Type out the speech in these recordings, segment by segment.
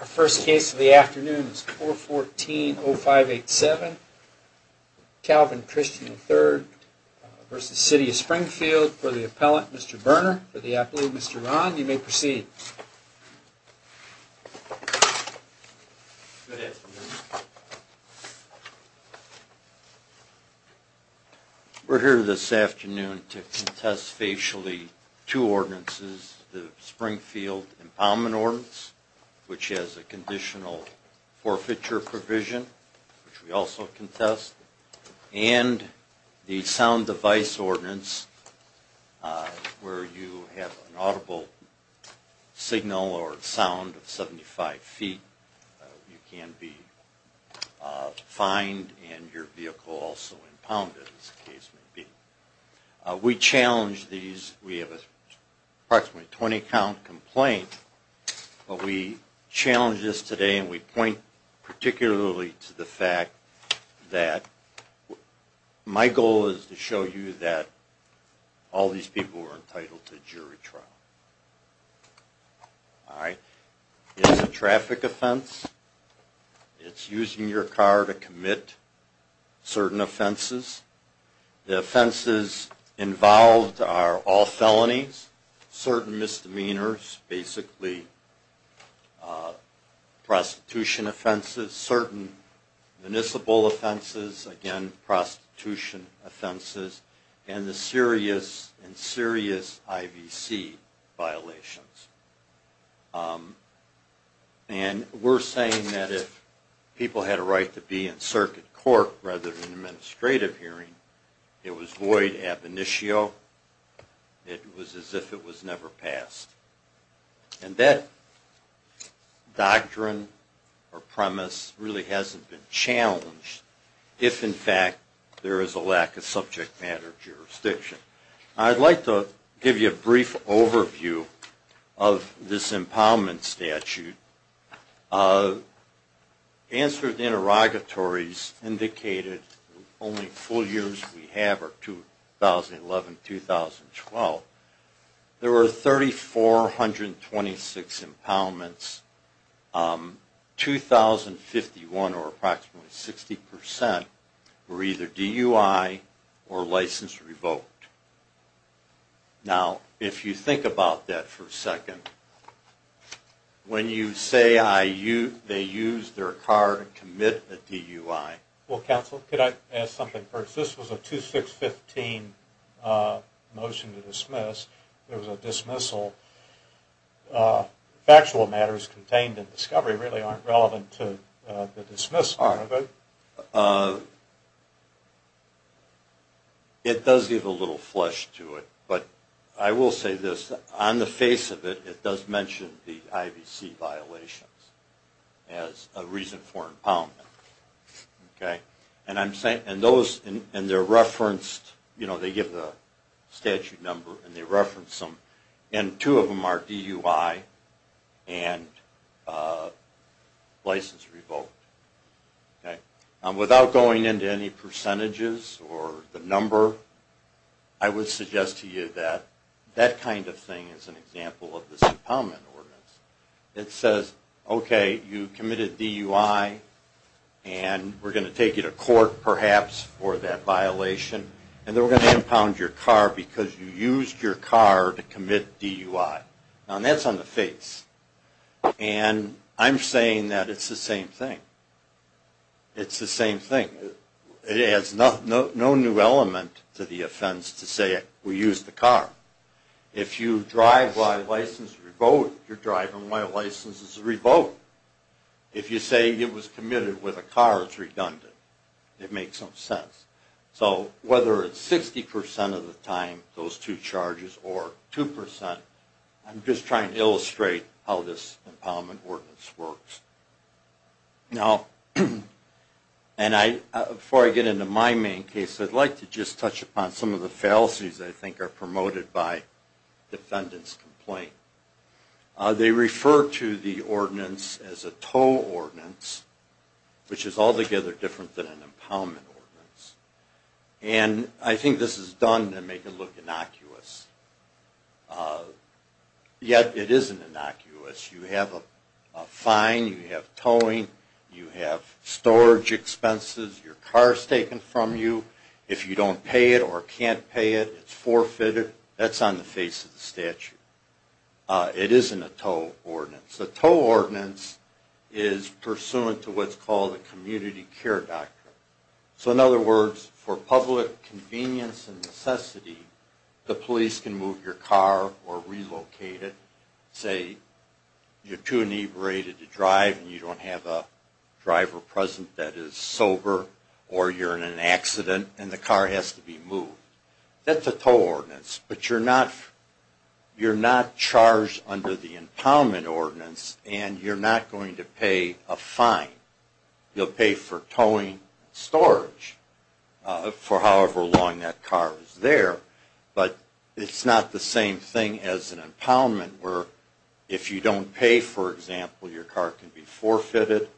Our first case of the afternoon is 414-0587, Calvin Christian III v. City of Springfield. For the appellant, Mr. Berner. For the appellate, Mr. Rahn. You may proceed. We're here this afternoon to contest facially two ordinances, the Springfield Empowerment Ordinance, which has a conditional forfeiture provision, which we also contest, and the Sound Device Ordinance, where you have an audible signal or sound of 75 feet. You can be fined and your vehicle also impounded, as the case may be. We challenge these. We have approximately a 20-count complaint, but we challenge this today and we point particularly to the fact that my goal is to show you that all these people are entitled to jury trial. All right. It's a traffic offense. It's using your car to commit certain offenses. The offenses involved are all felonies, certain misdemeanors, basically prostitution offenses, certain municipal offenses, again, prostitution offenses, and the serious and serious IBC. And we're saying that if people had a right to be in circuit court rather than an administrative hearing, it was void ab initio. It was as if it was never passed. And that doctrine or premise really hasn't been challenged if, in fact, there is a lack of subject matter jurisdiction. I'd like to give you a brief overview of this impoundment statute. Answered interrogatories indicated only full years we have are 2011-2012. There were 3,426 impoundments. 2,051, or approximately 60%, were either DUI or license revoked. Now, if you think about that for a second, when you say they used their car to commit the DUI... really aren't relevant to the dismissal of it. license revoked. Without going into any percentages or the number, I would suggest to you that that kind of thing is an example of this impoundment ordinance. It says, okay, you committed DUI, and we're going to take you to court perhaps for that violation, and then we're going to impound your car because you used your car to commit DUI. Now, that's on the face. And I'm saying that it's the same thing. It's the same thing. It adds no new element to the offense to say we used the car. If you drive by license revoked, you're driving by license revoked. If you say it was committed with a car, it's redundant. It makes no sense. So whether it's 60% of the time, those two charges, or 2%, I'm just trying to illustrate how this impoundment ordinance works. Now, before I get into my main case, I'd like to just touch upon some of the fallacies that I think are promoted by defendant's complaint. They refer to the ordinance as a tow ordinance, which is altogether different than an impoundment ordinance. And I think this is done to make it look innocuous. Yet, it isn't innocuous. You have a fine. You have towing. You have storage expenses. Your car is taken from you. If you don't pay it or can't pay it, it's forfeited. That's on the face of the statute. It isn't a tow ordinance. The tow ordinance is pursuant to what's called a community care doctrine. So in other words, for public convenience and necessity, the police can move your car or relocate it. Say you're too inebriated to drive and you don't have a driver present that is sober, or you're in an accident and the car has to be moved. That's a tow ordinance. But you're not charged under the impoundment ordinance and you're not going to pay a fine. You'll pay for towing and storage for however long that car is there. But it's not the same thing as an impoundment where if you don't pay, for example, your car can be forfeited.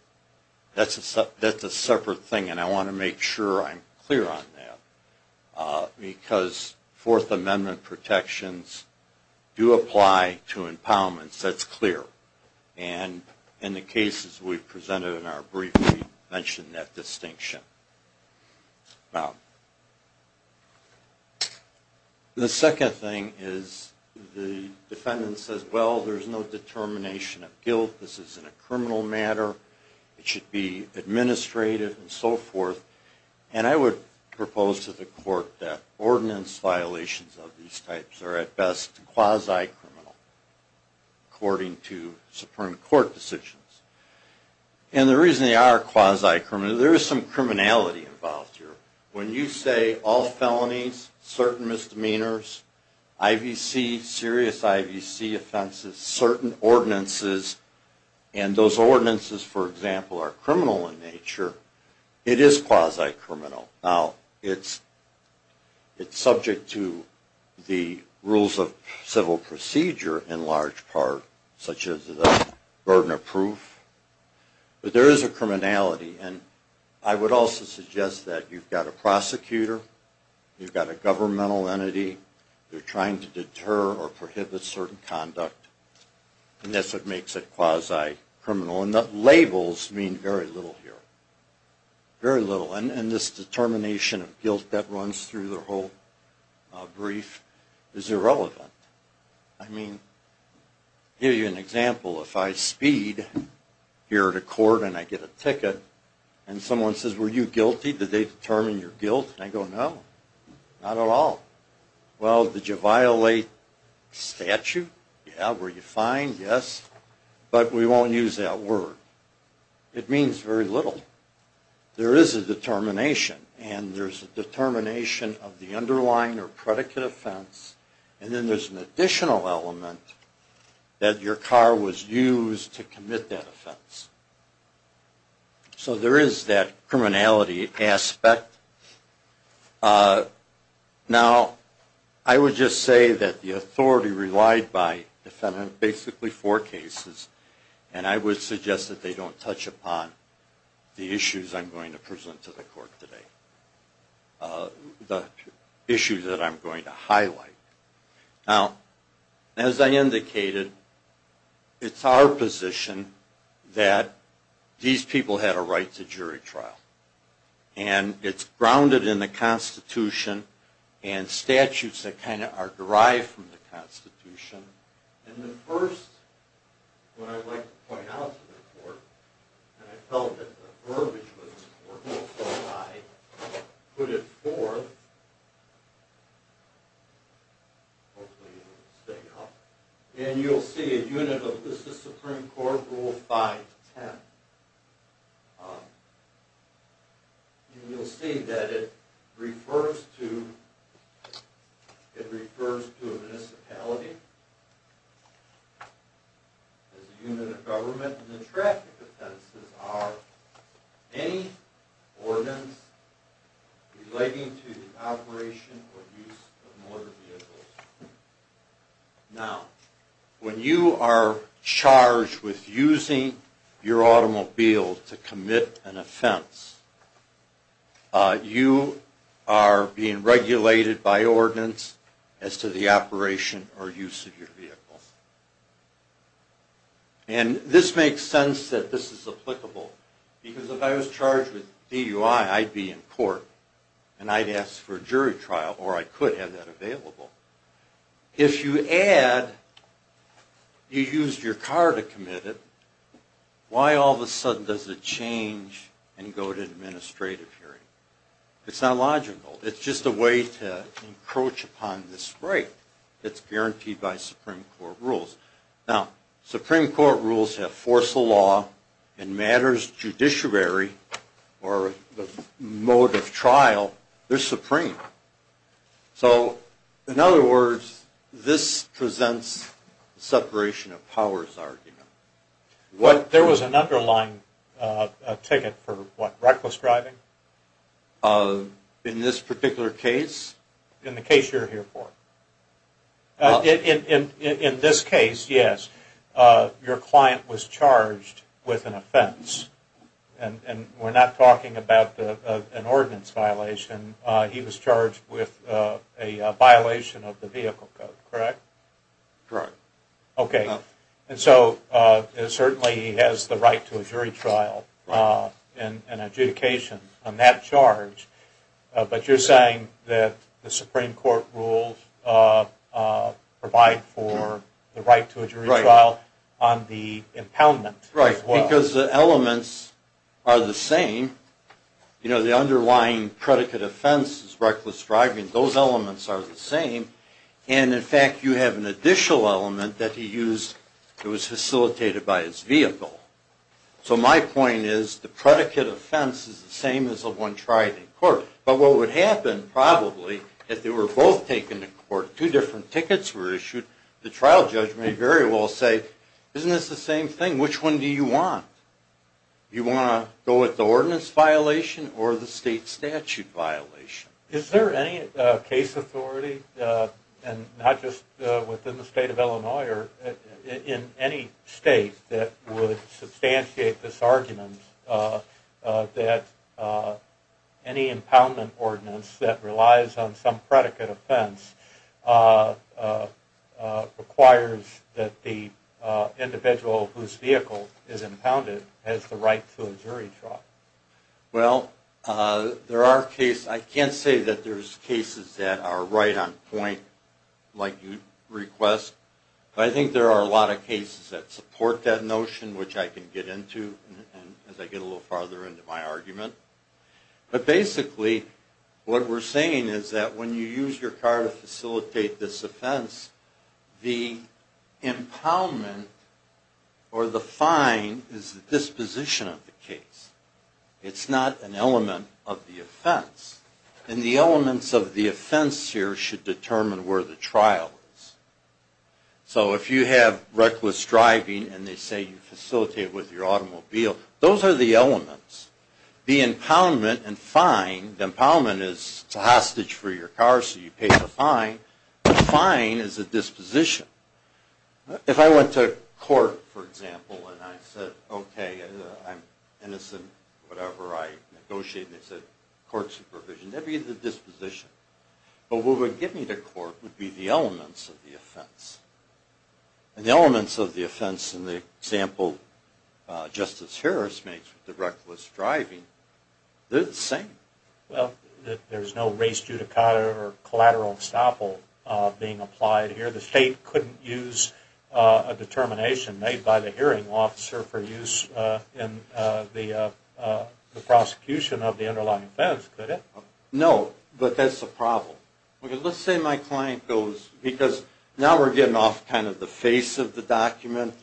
That's a separate thing and I want to make sure I'm clear on that. Because Fourth Amendment protections do apply to impoundments. That's clear. And in the cases we've presented in our briefing, we've mentioned that distinction. Now, the second thing is the defendant says, well, there's no determination of guilt. This isn't a criminal matter. It should be administrative and so forth. And I would propose to the court that ordinance violations of these types are at best quasi-criminal, according to Supreme Court decisions. And the reason they are quasi-criminal, there is some criminality involved here. When you say all felonies, certain misdemeanors, IVC, serious IVC offenses, certain ordinances, and those ordinances, for example, are criminal in nature, it is quasi-criminal. Now, it's subject to the rules of civil procedure in large part, such as the burden of proof. But there is a criminality. And I would also suggest that you've got a prosecutor, you've got a governmental entity, they're trying to deter or prohibit certain conduct, and that's what makes it quasi-criminal. And the labels mean very little here. Very little. And this determination of guilt that runs through the whole brief is irrelevant. I mean, I'll give you an example. If I speed here at a court and I get a ticket and someone says, were you guilty? Did they determine your guilt? And I go, no, not at all. Well, did you violate statute? Yeah. Were you fined? Yes. But we won't use that word. It means very little. There is a determination, and there's a determination of the underlying or predicate offense, and then there's an additional element that your car was used to commit that offense. So there is that criminality aspect. Now, I would just say that the authority relied by defendant on basically four cases, and I would suggest that they don't touch upon the issues I'm going to present to the court today, the issues that I'm going to highlight. Now, as I indicated, it's our position that these people had a right to jury trial, and it's grounded in the Constitution and statutes that kind of are derived from the Constitution. And the first one I'd like to point out to the court, and I felt that the verbiage was important, so I put it forth. Hopefully it will stay up. And you'll see a unit of the Supreme Court Rule 510. You'll see that it refers to a municipality as a unit of government, and the traffic offenses are any ordinance relating to the operation or use of motor vehicles. Now, when you are charged with using your automobile to commit an offense, you are being regulated by ordinance as to the operation or use of your vehicle. And this makes sense that this is applicable, because if I was charged with DUI, I'd be in court, and I'd ask for a jury trial, or I could have that available. If you add, you used your car to commit it, why all of a sudden does it change and go to administrative hearing? It's not logical. It's just a way to encroach upon this right that's guaranteed by Supreme Court rules. Now, Supreme Court rules have force of law, and matters judiciary or the mode of trial, they're supreme. So, in other words, this presents separation of powers argument. There was an underlying ticket for what? Reckless driving? In this particular case? In the case you're here for. In this case, yes. Your client was charged with an offense, and we're not talking about an ordinance violation. He was charged with a violation of the vehicle code, correct? Correct. Okay. And so, certainly he has the right to a jury trial and adjudication on that charge, but you're saying that the Supreme Court rules provide for the right to a jury trial on the impoundment as well? Because the elements are the same. You know, the underlying predicate offense is reckless driving. Those elements are the same. And, in fact, you have an additional element that he used that was facilitated by his vehicle. So, my point is the predicate offense is the same as the one tried in court. But what would happen, probably, if they were both taken to court, two different tickets were issued, the trial judge may very well say, isn't this the same thing? Which one do you want? Do you want to go with the ordinance violation or the state statute violation? Is there any case authority, and not just within the state of Illinois, or in any state that would substantiate this argument that any impoundment ordinance that relies on some predicate offense requires that the individual whose vehicle is impounded has the right to a jury trial? Well, there are cases, I can't say that there's cases that are right on point, like you'd request, but I think there are a lot of cases that support that notion, which I can get into as I get a little farther into my argument. But, basically, what we're saying is that when you use your car to facilitate this offense, the impoundment or the fine is the disposition of the case. It's not an element of the offense. And the elements of the offense here should determine where the trial is. So, if you have reckless driving and they say you facilitate with your automobile, those are the elements. The impoundment and fine, the impoundment is a hostage for your car, so you pay the fine. The fine is a disposition. If I went to court, for example, and I said, okay, I'm innocent, whatever, I negotiate, and they said court supervision, that would be the disposition. But what would get me to court would be the elements of the offense. And the elements of the offense in the example Justice Harris makes with the reckless driving, they're the same. Well, there's no race judicata or collateral estoppel being applied here. The state couldn't use a determination made by the hearing officer for use in the prosecution of the underlying offense, could it? No, but that's the problem. Let's say my client goes, because now we're getting off kind of the face of the document,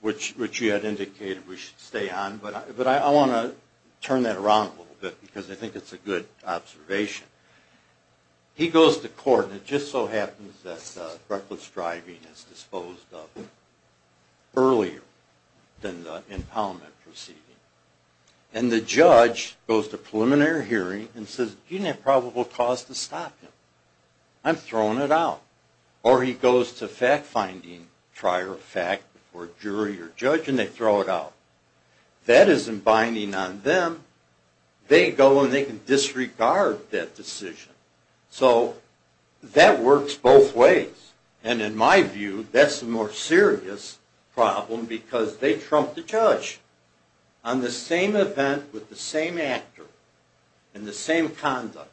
which you had indicated we should stay on, but I want to turn that around a little bit because I think it's a good observation. He goes to court and it just so happens that the reckless driving is disposed of earlier than the impoundment proceeding. And the judge goes to preliminary hearing and says, you didn't have probable cause to stop him. I'm throwing it out. Or he goes to fact-finding prior fact before jury or judge and they throw it out. That isn't binding on them. They go and they can disregard that decision. So that works both ways. And in my view, that's the more serious problem because they trump the judge on the same event with the same actor and the same conduct,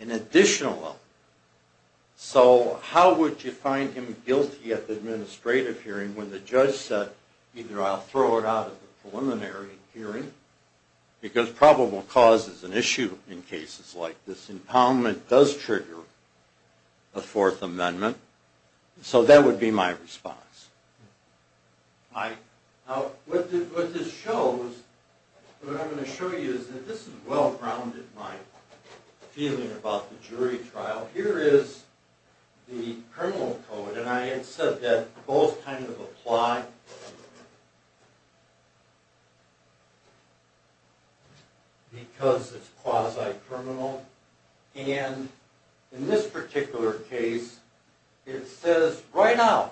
an additional element. So how would you find him guilty at the administrative hearing when the judge said, either I'll throw it out at the preliminary hearing, because probable cause is an issue in cases like this. Impoundment does trigger a Fourth Amendment. So that would be my response. All right. Now, what this shows, what I'm going to show you is that this is well-grounded, my feeling about the jury trial. Here is the criminal code, and I had said that both kind of apply because it's quasi-criminal. And in this particular case, it says right now,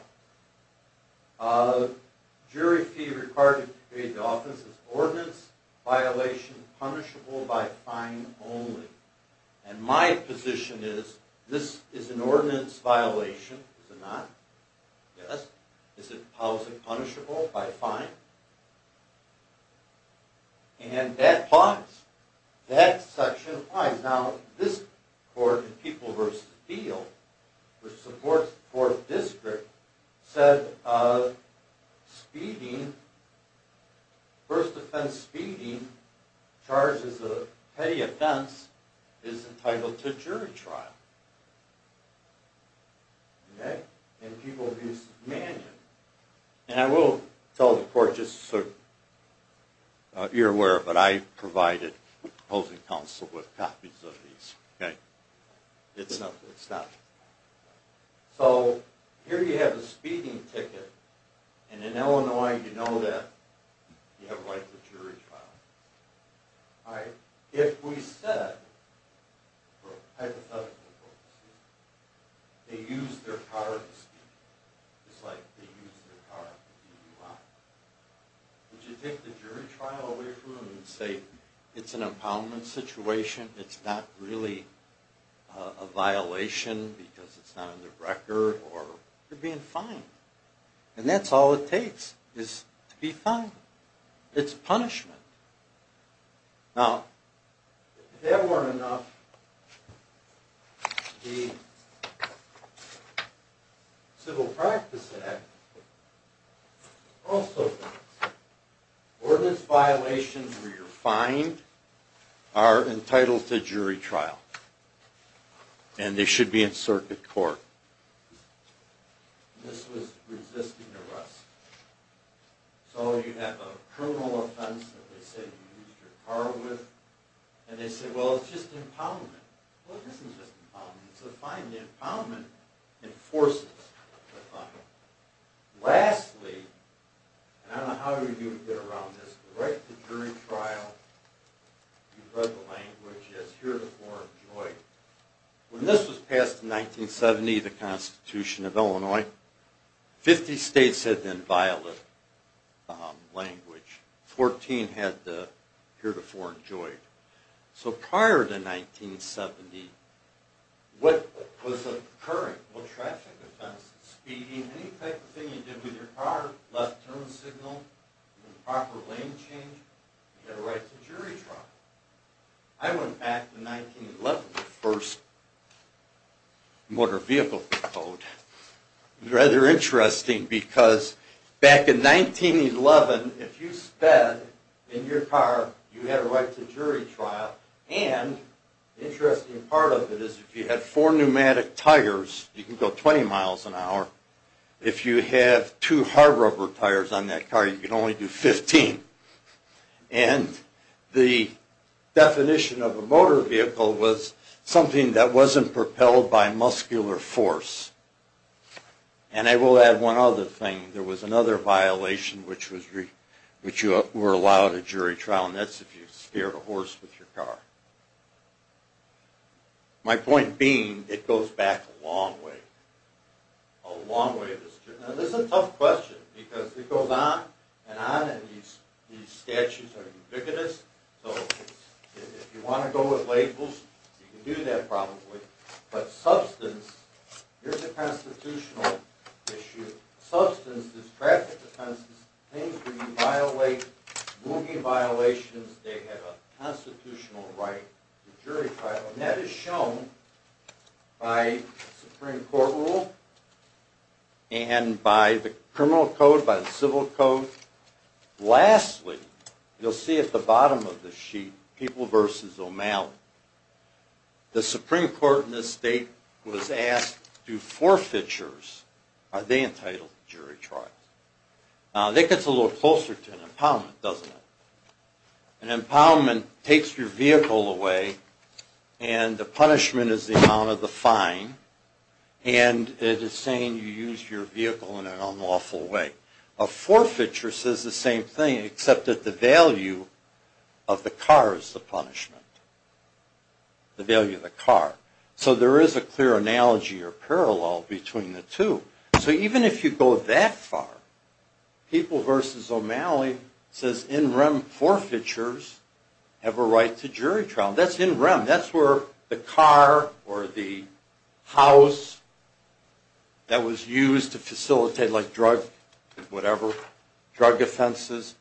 jury fee required to create the offense is ordinance violation punishable by fine only. And my position is, this is an ordinance violation, is it not? Yes. Is it quasi-punishable by fine? And that applies. That section applies. Now, this court in People v. Thiel, which supports the Fourth District, said speeding, first offense speeding, charges of petty offense, is entitled to jury trial. Okay? In People v. Mannion. And I will tell the court just so you're aware, but I provided opposing counsel with copies of these. Okay? It's not. So here you have the speeding ticket, and in Illinois, you know that you have rights of jury trial. All right. If we said, hypothetically, they used their power to speed, it's like they used their power to do you wrong. Would you take the jury trial away from them and say, it's an impoundment situation, it's not really a violation because it's not in the record, or you're being fined. And that's all it takes, is to be fined. It's punishment. Now, if that weren't enough, the Civil Practice Act also says, ordinance violations where you're fined are entitled to jury trial. And they should be in circuit court. This was resisting arrest. So you have a criminal offense that they say you used your car with, and they say, well, it's just impoundment. Well, it isn't just impoundment, it's a fine. The impoundment enforces the fine. Lastly, and I don't know how you would get around this, the right to jury trial, you've read the language, is heretofore enjoyed. When this was passed in 1970, the Constitution of Illinois, 50 states had then violated the language. Fourteen had the heretofore enjoyed. So prior to 1970, what was occurring, what traffic offenses, speeding, any type of thing you did with your car, left turn signal, improper lane change, you had a right to jury trial. I went back to 1911, the first motor vehicle code. It was rather interesting, because back in 1911, if you sped in your car, you had a right to jury trial. And the interesting part of it is if you had four pneumatic tires, you could go 20 miles an hour. If you have two hard rubber tires on that car, you could only do 15. And the definition of a motor vehicle was something that wasn't propelled by muscular force. And I will add one other thing. There was another violation, which you were allowed a jury trial, and that's if you scared a horse with your car. My point being, it goes back a long way. A long way. Now this is a tough question, because it goes on and on, and these statutes are ubiquitous. So if you want to go with labels, you can do that probably. But substance, here's a constitutional issue. Substance is traffic offenses, things where you violate, moving violations, they have a constitutional right to jury trial. And that is shown by Supreme Court rule and by the criminal code, by the civil code. Lastly, you'll see at the bottom of the sheet, people versus O'Malley. The Supreme Court in this state was asked, do forfeitures, are they entitled to jury trial? Now that gets a little closer to an impoundment, doesn't it? An impoundment takes your vehicle away, and the punishment is the amount of the fine, and it is saying you used your vehicle in an unlawful way. A forfeiture says the same thing, except that the value of the car is the punishment. The value of the car. So there is a clear analogy or parallel between the two. So even if you go that far, people versus O'Malley says in rem forfeitures have a right to jury trial. That's in rem, that's where the car or the house that was used to facilitate like drug, whatever, drug offenses,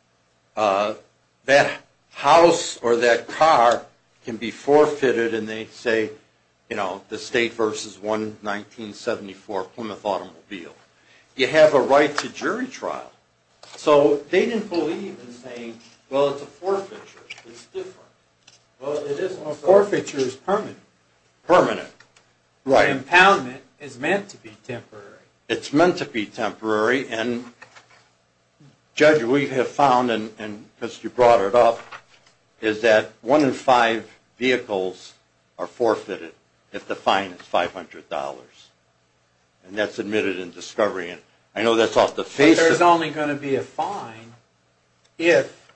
that house or that car can be forfeited and they say, you know, the state versus 1974 Plymouth automobile. You have a right to jury trial. So they didn't believe in saying, well, it's a forfeiture. It's different. A forfeiture is permanent. An impoundment is meant to be temporary. It's meant to be temporary, and Judge, we have found, and because you brought it up, is that one in five vehicles are forfeited if the fine is $500. And that's admitted in discovery, and I know that's off the face of it. But there's only going to be a fine if,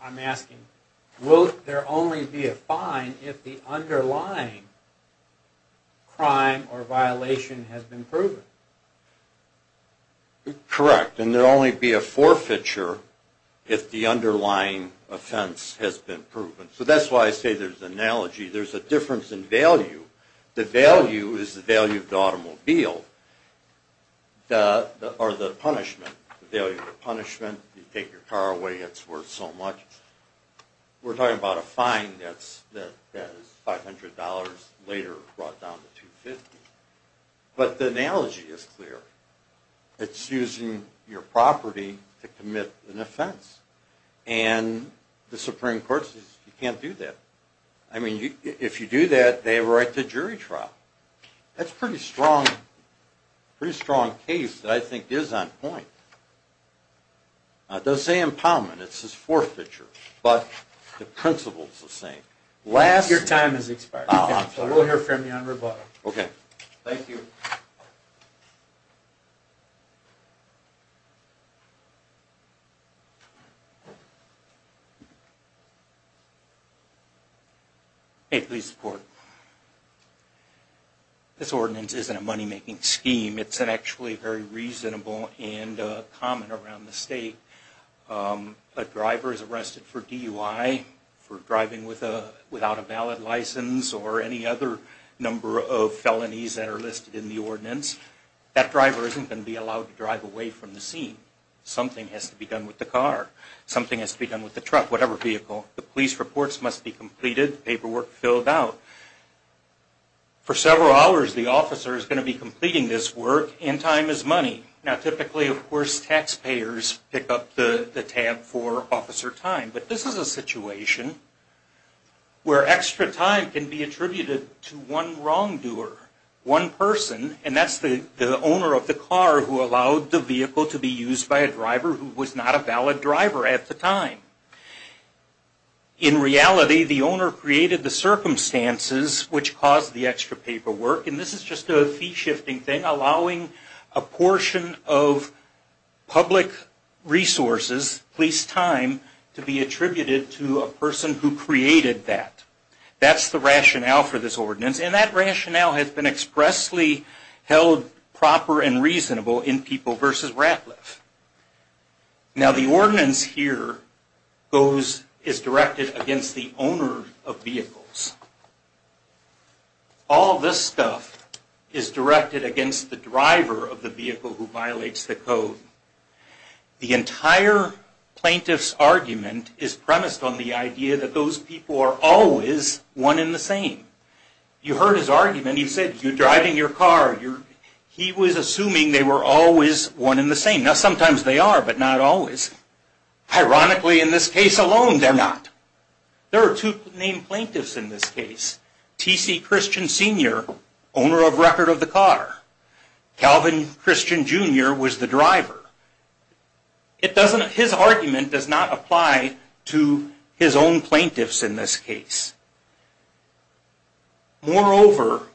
I'm asking, will there only be a fine if the underlying crime or violation has been proven? Correct. And there will only be a forfeiture if the underlying offense has been proven. So that's why I say there's an analogy. There's a difference in value. The value is the value of the automobile, or the punishment. The value of the punishment, you take your car away, it's worth so much. We're talking about a fine that is $500, later brought down to $250. But the analogy is clear. It's using your property to commit an offense. And the Supreme Court says you can't do that. I mean, if you do that, they have a right to jury trial. That's a pretty strong case that I think is on point. Does say empowerment. It says forfeiture. But the principles are the same. Your time has expired. Oh, I'm sorry. We'll hear from you on rebuttal. Okay. Thank you. Thank you. May it please the Court. This ordinance isn't a money-making scheme. It's actually very reasonable and common around the state. A driver is arrested for DUI, for driving without a valid license, or any other number of felonies that are listed in the ordinance. That driver isn't going to be allowed to drive away from the scene. Something has to be done with the car. Something has to be done with the truck, whatever vehicle. The police reports must be completed, paperwork filled out. For several hours, the officer is going to be completing this work, and time is money. Now typically, of course, taxpayers pick up the tab for officer time. But this is a situation where extra time can be attributed to one wrongdoer. One person, and that's the owner of the car who allowed the vehicle to be used by a driver who was not a valid driver at the time. In reality, the owner created the circumstances which caused the extra paperwork, and this is just a fee-shifting thing, allowing a portion of public resources, police time, to be attributed to a person who created that. That's the rationale for this ordinance, and that rationale has been expressly held proper and reasonable in People v. Ratliff. Now the ordinance here is directed against the owner of vehicles. All this stuff is directed against the driver of the vehicle who violates the code. The entire plaintiff's argument is premised on the idea that those people are always one and the same. You heard his argument. He said, you're driving your car. He was assuming they were always one and the same. Now sometimes they are, but not always. Ironically, in this case alone, they're not. There are two named plaintiffs in this case. T.C. Christian Sr., owner of record of the car. Calvin Christian Jr. was the driver. His argument does not apply to his own plaintiffs in this case. Moreover,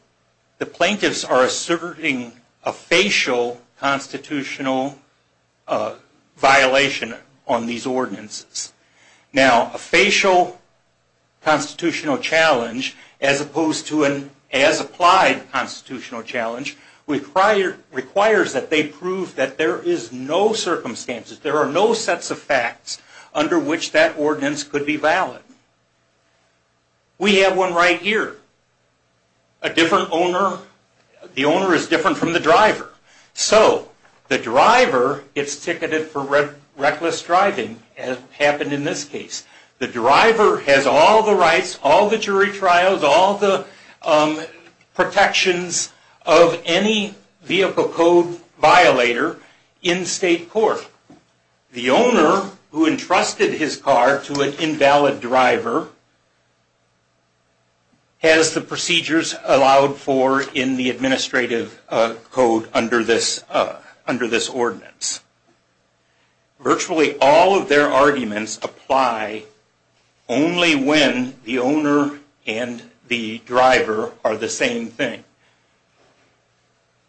the plaintiffs are asserting a facial constitutional violation on these ordinances. Now, a facial constitutional challenge, as opposed to an as-applied constitutional challenge, requires that they prove that there is no circumstances, there are no sets of facts, under which that ordinance could be valid. We have one right here. The owner is different from the driver. So, the driver gets ticketed for reckless driving, as happened in this case. The driver has all the rights, all the jury trials, all the protections of any vehicle code violator in state court. The owner, who entrusted his car to an invalid driver, has the procedures allowed for in the administrative code under this ordinance. Virtually all of their arguments apply only when the owner and the driver are the same thing.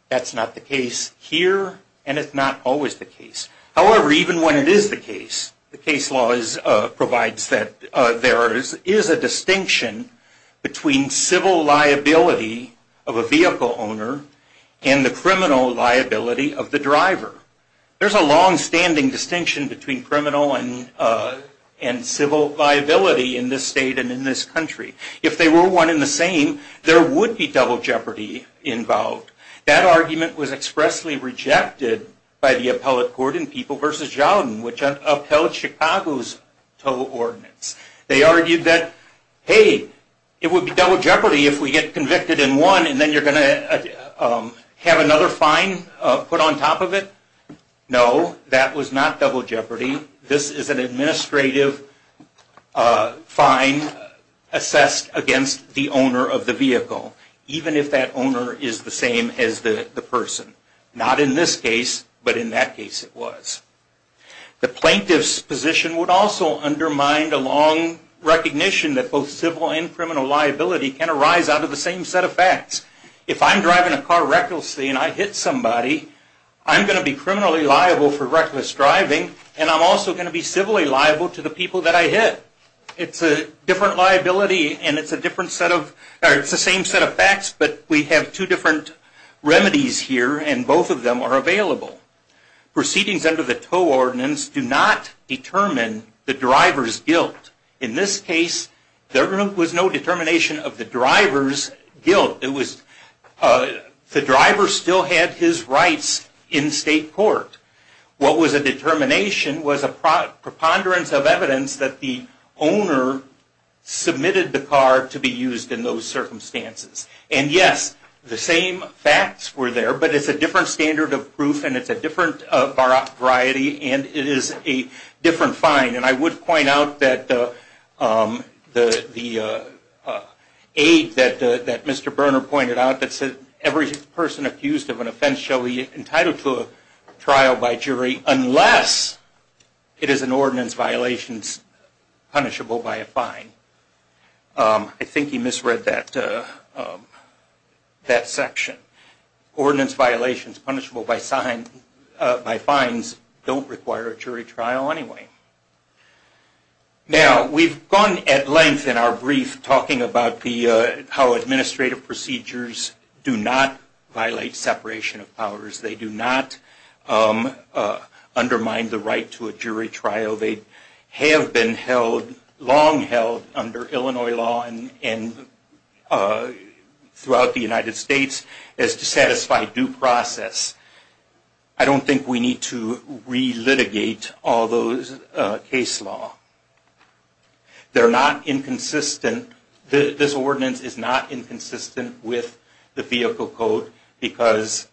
That's not the case here, and it's not always the case. There's a long-standing distinction between criminal and civil liability in this state and in this country. If they were one and the same, there would be double jeopardy involved. That argument was expressly rejected by the appellate court in People v. Jowden, which upheld Chicago's Toe Ordinance. They argued that, hey, it would be double jeopardy if we get convicted in one and then you're going to have another fine put on top of it. No, that was not double jeopardy. This is an administrative fine assessed against the owner of the vehicle, even if that owner is the same as the person. Not in this case, but in that case it was. The plaintiff's position would also undermine the long recognition that both civil and criminal liability can arise out of the same set of facts. If I'm driving a car recklessly and I hit somebody, I'm going to be criminally liable for reckless driving, and I'm also going to be civilly liable to the people that I hit. It's a different liability and it's the same set of facts, but we have two different remedies here, and both of them are available. Proceedings under the Toe Ordinance do not determine the driver's guilt. In this case, there was no determination of the driver's guilt. The driver still had his rights in state court. What was a determination was a preponderance of evidence that the owner submitted the car to be used in those circumstances. And yes, the same facts were there, but it's a different standard of proof and it's a different variety and it is a different fine. And I would point out that the aid that Mr. Berner pointed out that said every person accused of an offense shall be entitled to a trial by jury unless it is an ordinance violation punishable by a fine. I think he misread that section. Ordinance violations punishable by fines don't require a jury trial anyway. Now, we've gone at length in our brief talking about how administrative procedures do not violate separation of powers. They do not undermine the right to a jury trial. They have been long held under Illinois law and throughout the United States as to satisfy due process. I don't think we need to re-litigate all those case law. This ordinance is not inconsistent with the vehicle code because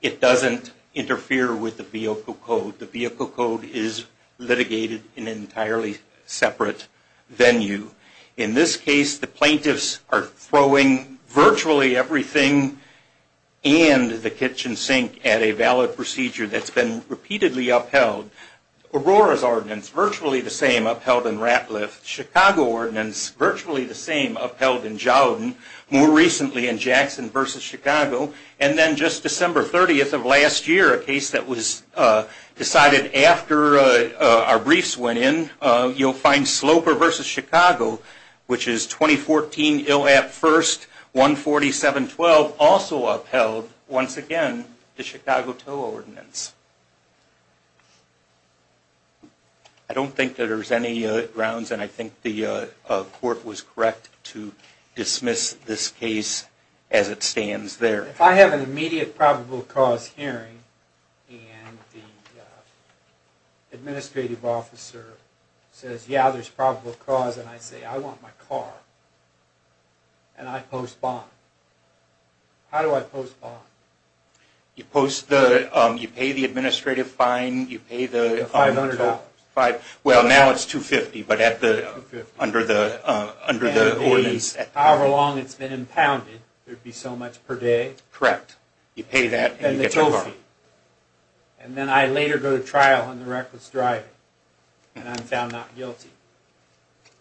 it doesn't interfere with the vehicle code. The vehicle code is litigated in an entirely separate venue. In this case, the plaintiffs are throwing virtually everything and the kitchen sink at a valid procedure that's been repeatedly upheld. Aurora's ordinance, virtually the same, upheld in Ratliff. Chicago ordinance, virtually the same, upheld in Jowden. More recently in Jackson v. Chicago. And then just December 30th of last year, a case that was decided after our briefs went in, you'll find Sloper v. Chicago, which is 2014 ILAP 1st, 14712, also upheld, once again, the Chicago Tow Ordinance. I don't think there's any grounds, and I think the court was correct to dismiss this case as it stands there. If I have an immediate probable cause hearing and the administrative officer says, yeah, there's probable cause, and I say, I want my car, and I post bond, how do I post bond? You post the, you pay the administrative fine, you pay the- The $500. Well, now it's $250, but at the, under the ordinance. However long it's been impounded, there'd be so much per day. Correct. You pay that, and you get your car. And then I later go to trial on the reckless driving, and I'm found not guilty.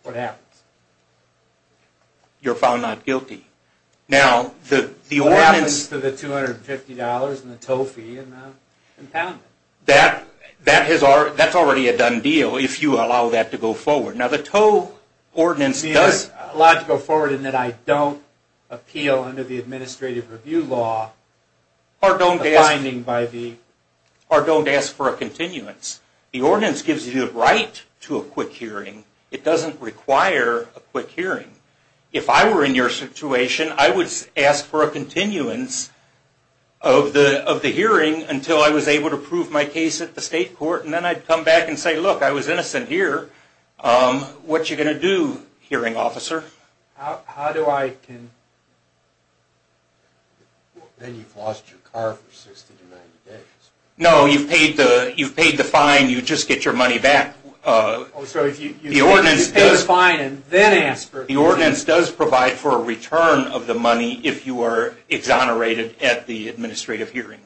What happens? You're found not guilty. Now, the ordinance- What happens to the $250 and the tow fee and the impoundment? That's already a done deal if you allow that to go forward. Now, the Tow Ordinance does- It's allowed to go forward in that I don't appeal under the administrative review law a finding by the- Or don't ask for a continuance. The ordinance gives you the right to a quick hearing. It doesn't require a quick hearing. If I were in your situation, I would ask for a continuance of the hearing until I was able to prove my case at the state court, and then I'd come back and say, look, I was innocent here. What are you going to do, hearing officer? How do I- Then you've lost your car for 62 million days. No, you've paid the fine. You just get your money back. Oh, so if you- The ordinance does- The ordinance does provide for a return of the money if you are exonerated at the administrative hearing.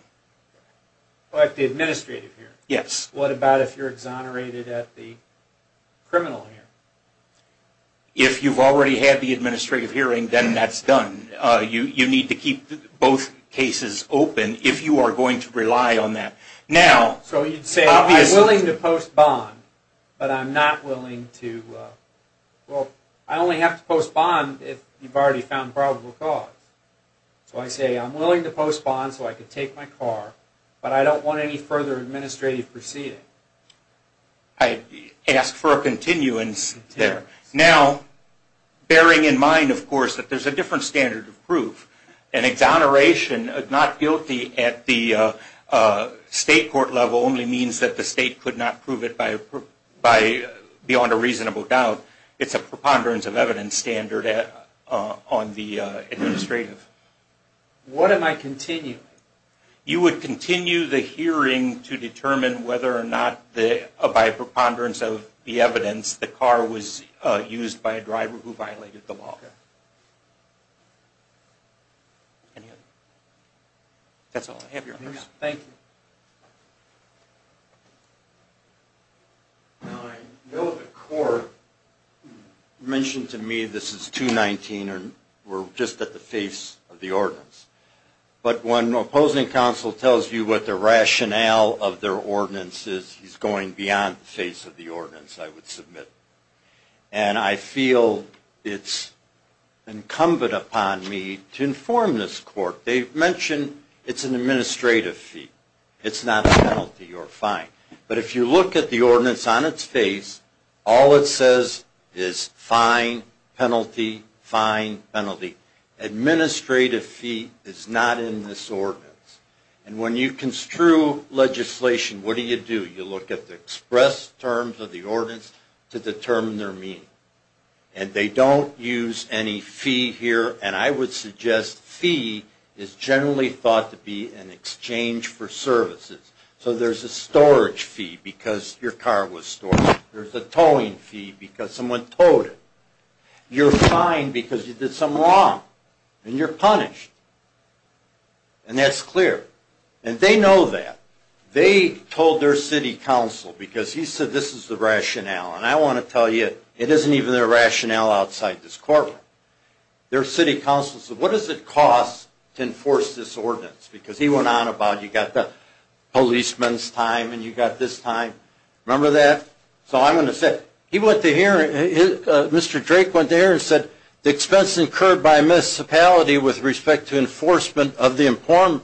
At the administrative hearing? Yes. What about if you're exonerated at the criminal hearing? If you've already had the administrative hearing, then that's done. You need to keep both cases open if you are going to rely on that. Now- So you'd say, I'm willing to post bond, but I'm not willing to- Well, I only have to post bond if you've already found probable cause. So I say, I'm willing to post bond so I can take my car, but I don't want any further administrative proceeding. I'd ask for a continuance there. Now, bearing in mind, of course, that there's a different standard of proof, An exoneration, not guilty at the state court level, only means that the state could not prove it beyond a reasonable doubt. It's a preponderance of evidence standard on the administrative. What am I continuing? You would continue the hearing to determine whether or not, by preponderance of the evidence, the car was used by a driver who violated the law. That's all. I have your honors. Thank you. Now, I know the court mentioned to me this is 219, and we're just at the face of the ordinance. But when opposing counsel tells you what the rationale of their ordinance is, he's going beyond the face of the ordinance, I would submit. And I feel it's incumbent upon me to inform this court. They've mentioned it's an administrative fee. It's not a penalty or a fine. But if you look at the ordinance on its face, all it says is fine, penalty, fine, penalty. Administrative fee is not in this ordinance. And when you construe legislation, what do you do? You look at the express terms of the ordinance to determine their meaning. And they don't use any fee here. And I would suggest fee is generally thought to be an exchange for services. So there's a storage fee because your car was stored. There's a towing fee because someone towed it. You're fined because you did something wrong. And you're punished. And that's clear. And they know that. They told their city council, because he said this is the rationale. And I want to tell you, it isn't even their rationale outside this courtroom. Their city council said, what does it cost to enforce this ordinance? Because he went on about you've got the policeman's time and you've got this time. Remember that? So I'm going to say, he went to hearing, Mr. Drake went to hearing and said, the expense incurred by a municipality with respect to enforcement of the important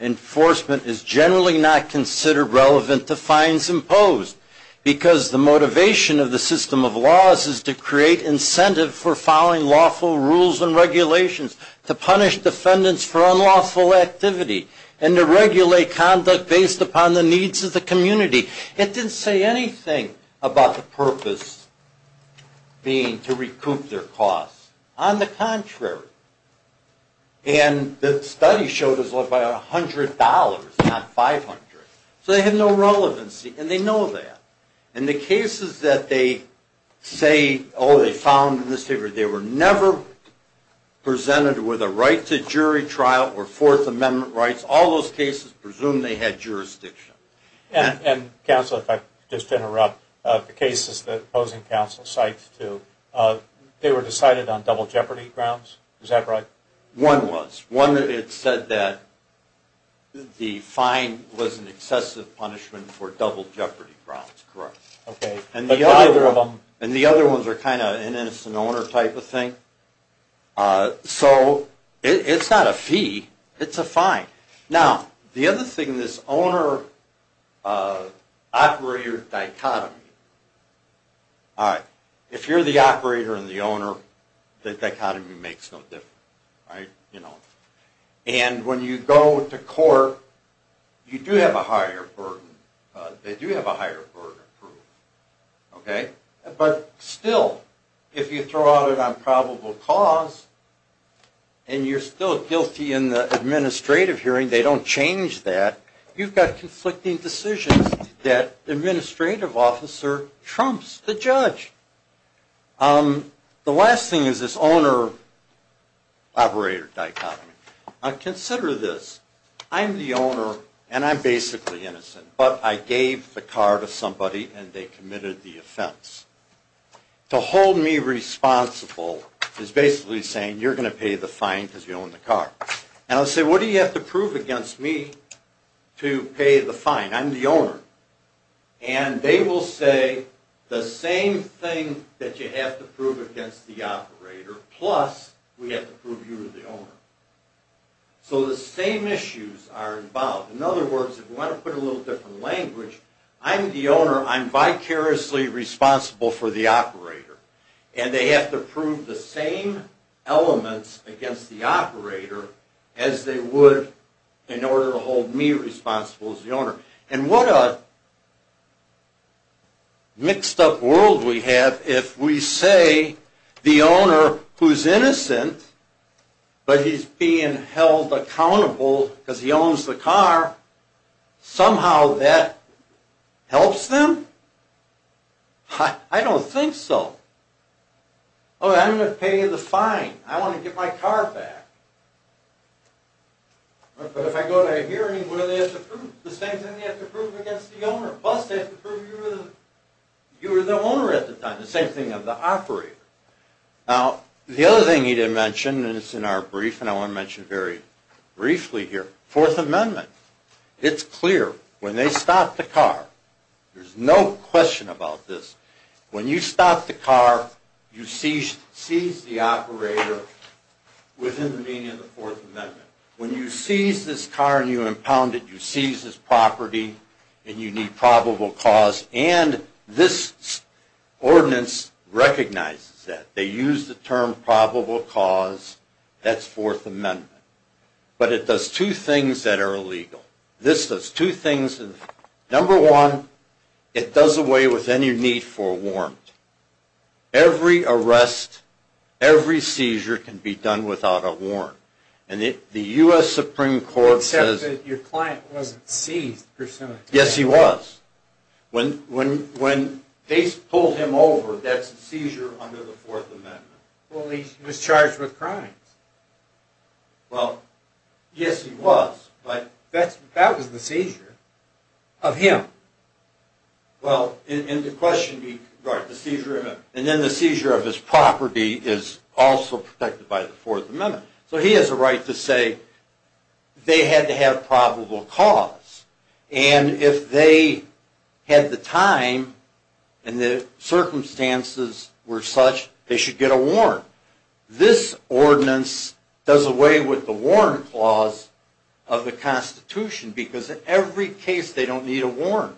enforcement is generally not considered relevant to fines imposed because the motivation of the system of laws is to create incentive for following lawful rules and regulations, to punish defendants for unlawful activity, and to regulate conduct based upon the needs of the community. It didn't say anything about the purpose being to recoup their costs. On the contrary. And the study showed it was about $100, not $500. So they had no relevancy. And they know that. And the cases that they say, oh, they found in this paper they were never presented with a right to jury trial or Fourth Amendment rights, all those cases presume they had jurisdiction. And counsel, if I could just interrupt, the cases that opposing counsel cites too, they were decided on double jeopardy grounds. Is that right? One was. One it said that the fine was an excessive punishment for double jeopardy grounds. Correct. Okay. But neither of them. And the other ones are kind of an innocent owner type of thing. So it's not a fee. It's a fine. Now, the other thing, this owner-operator dichotomy. All right. If you're the operator and the owner, the dichotomy makes no difference. All right. You know. And when you go to court, you do have a higher burden. They do have a higher burden of proof. Okay. But still, if you throw out an improbable cause and you're still guilty in the administrative hearing, they don't change that, you've got conflicting decisions that the administrative officer trumps the judge. The last thing is this owner-operator dichotomy. Consider this. I'm the owner, and I'm basically innocent. But I gave the car to somebody, and they committed the offense. To hold me responsible is basically saying, you're going to pay the fine because you own the car. And I'll say, what do you have to prove against me to pay the fine? I'm the owner. And they will say the same thing that you have to prove against the operator, plus we have to prove you're the owner. So the same issues are involved. In other words, if you want to put it in a little different language, I'm the owner, I'm vicariously responsible for the operator. And they have to prove the same elements against the operator as they would in order to hold me responsible as the owner. And what a mixed-up world we have if we say the owner, who's innocent, but he's being held accountable because he owns the car, somehow that helps them? I don't think so. I'm going to pay the fine. I want to get my car back. But if I go to a hearing, what do they have to prove? The same thing they have to prove against the owner, plus they have to prove you were the owner at the time, the same thing of the operator. Now, the other thing he didn't mention, and it's in our brief, and I want to mention it very briefly here, Fourth Amendment. It's clear. When they stop the car, there's no question about this. When you stop the car, you seize the operator within the meaning of the Fourth Amendment. When you seize this car and you impound it, you seize this property and you need probable cause. And this ordinance recognizes that. They use the term probable cause. That's Fourth Amendment. But it does two things that are illegal. This does two things. Number one, it does away with any need for a warrant. Every arrest, every seizure can be done without a warrant. And the U.S. Supreme Court says that your client wasn't seized. Yes, he was. When they pulled him over, that's a seizure under the Fourth Amendment. Well, he was charged with crimes. Well, yes, he was. But that was the seizure of him. Well, in the question, right, the seizure of him. And then the seizure of his property is also protected by the Fourth Amendment. So he has a right to say they had to have probable cause. And if they had the time and the circumstances were such, they should get a warrant. This ordinance does away with the warrant clause of the Constitution because in every case they don't need a warrant.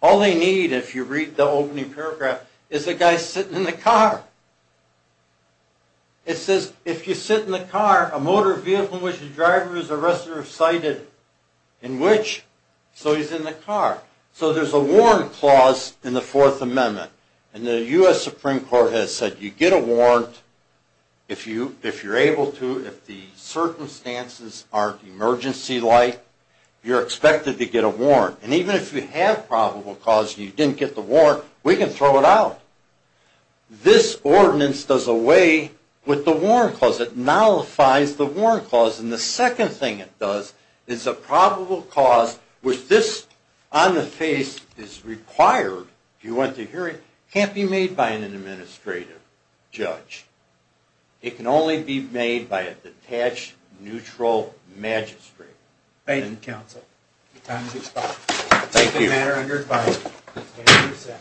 All they need, if you read the opening paragraph, is a guy sitting in the car. It says, if you sit in the car, a motor vehicle in which the driver is The arrestor is cited in which? So he's in the car. So there's a warrant clause in the Fourth Amendment. And the U.S. Supreme Court has said you get a warrant if you're able to, if the circumstances aren't emergency-like, you're expected to get a warrant. And even if you have probable cause and you didn't get the warrant, we can throw it out. This ordinance does away with the warrant clause. It nullifies the warrant clause. And the second thing it does is the probable cause, which this on the face is required if you want to hear it, can't be made by an administrative judge. It can only be made by a detached, neutral magistrate. Thank you, counsel. Your time has expired. Thank you. That's a matter under advisement. Thank you, sir.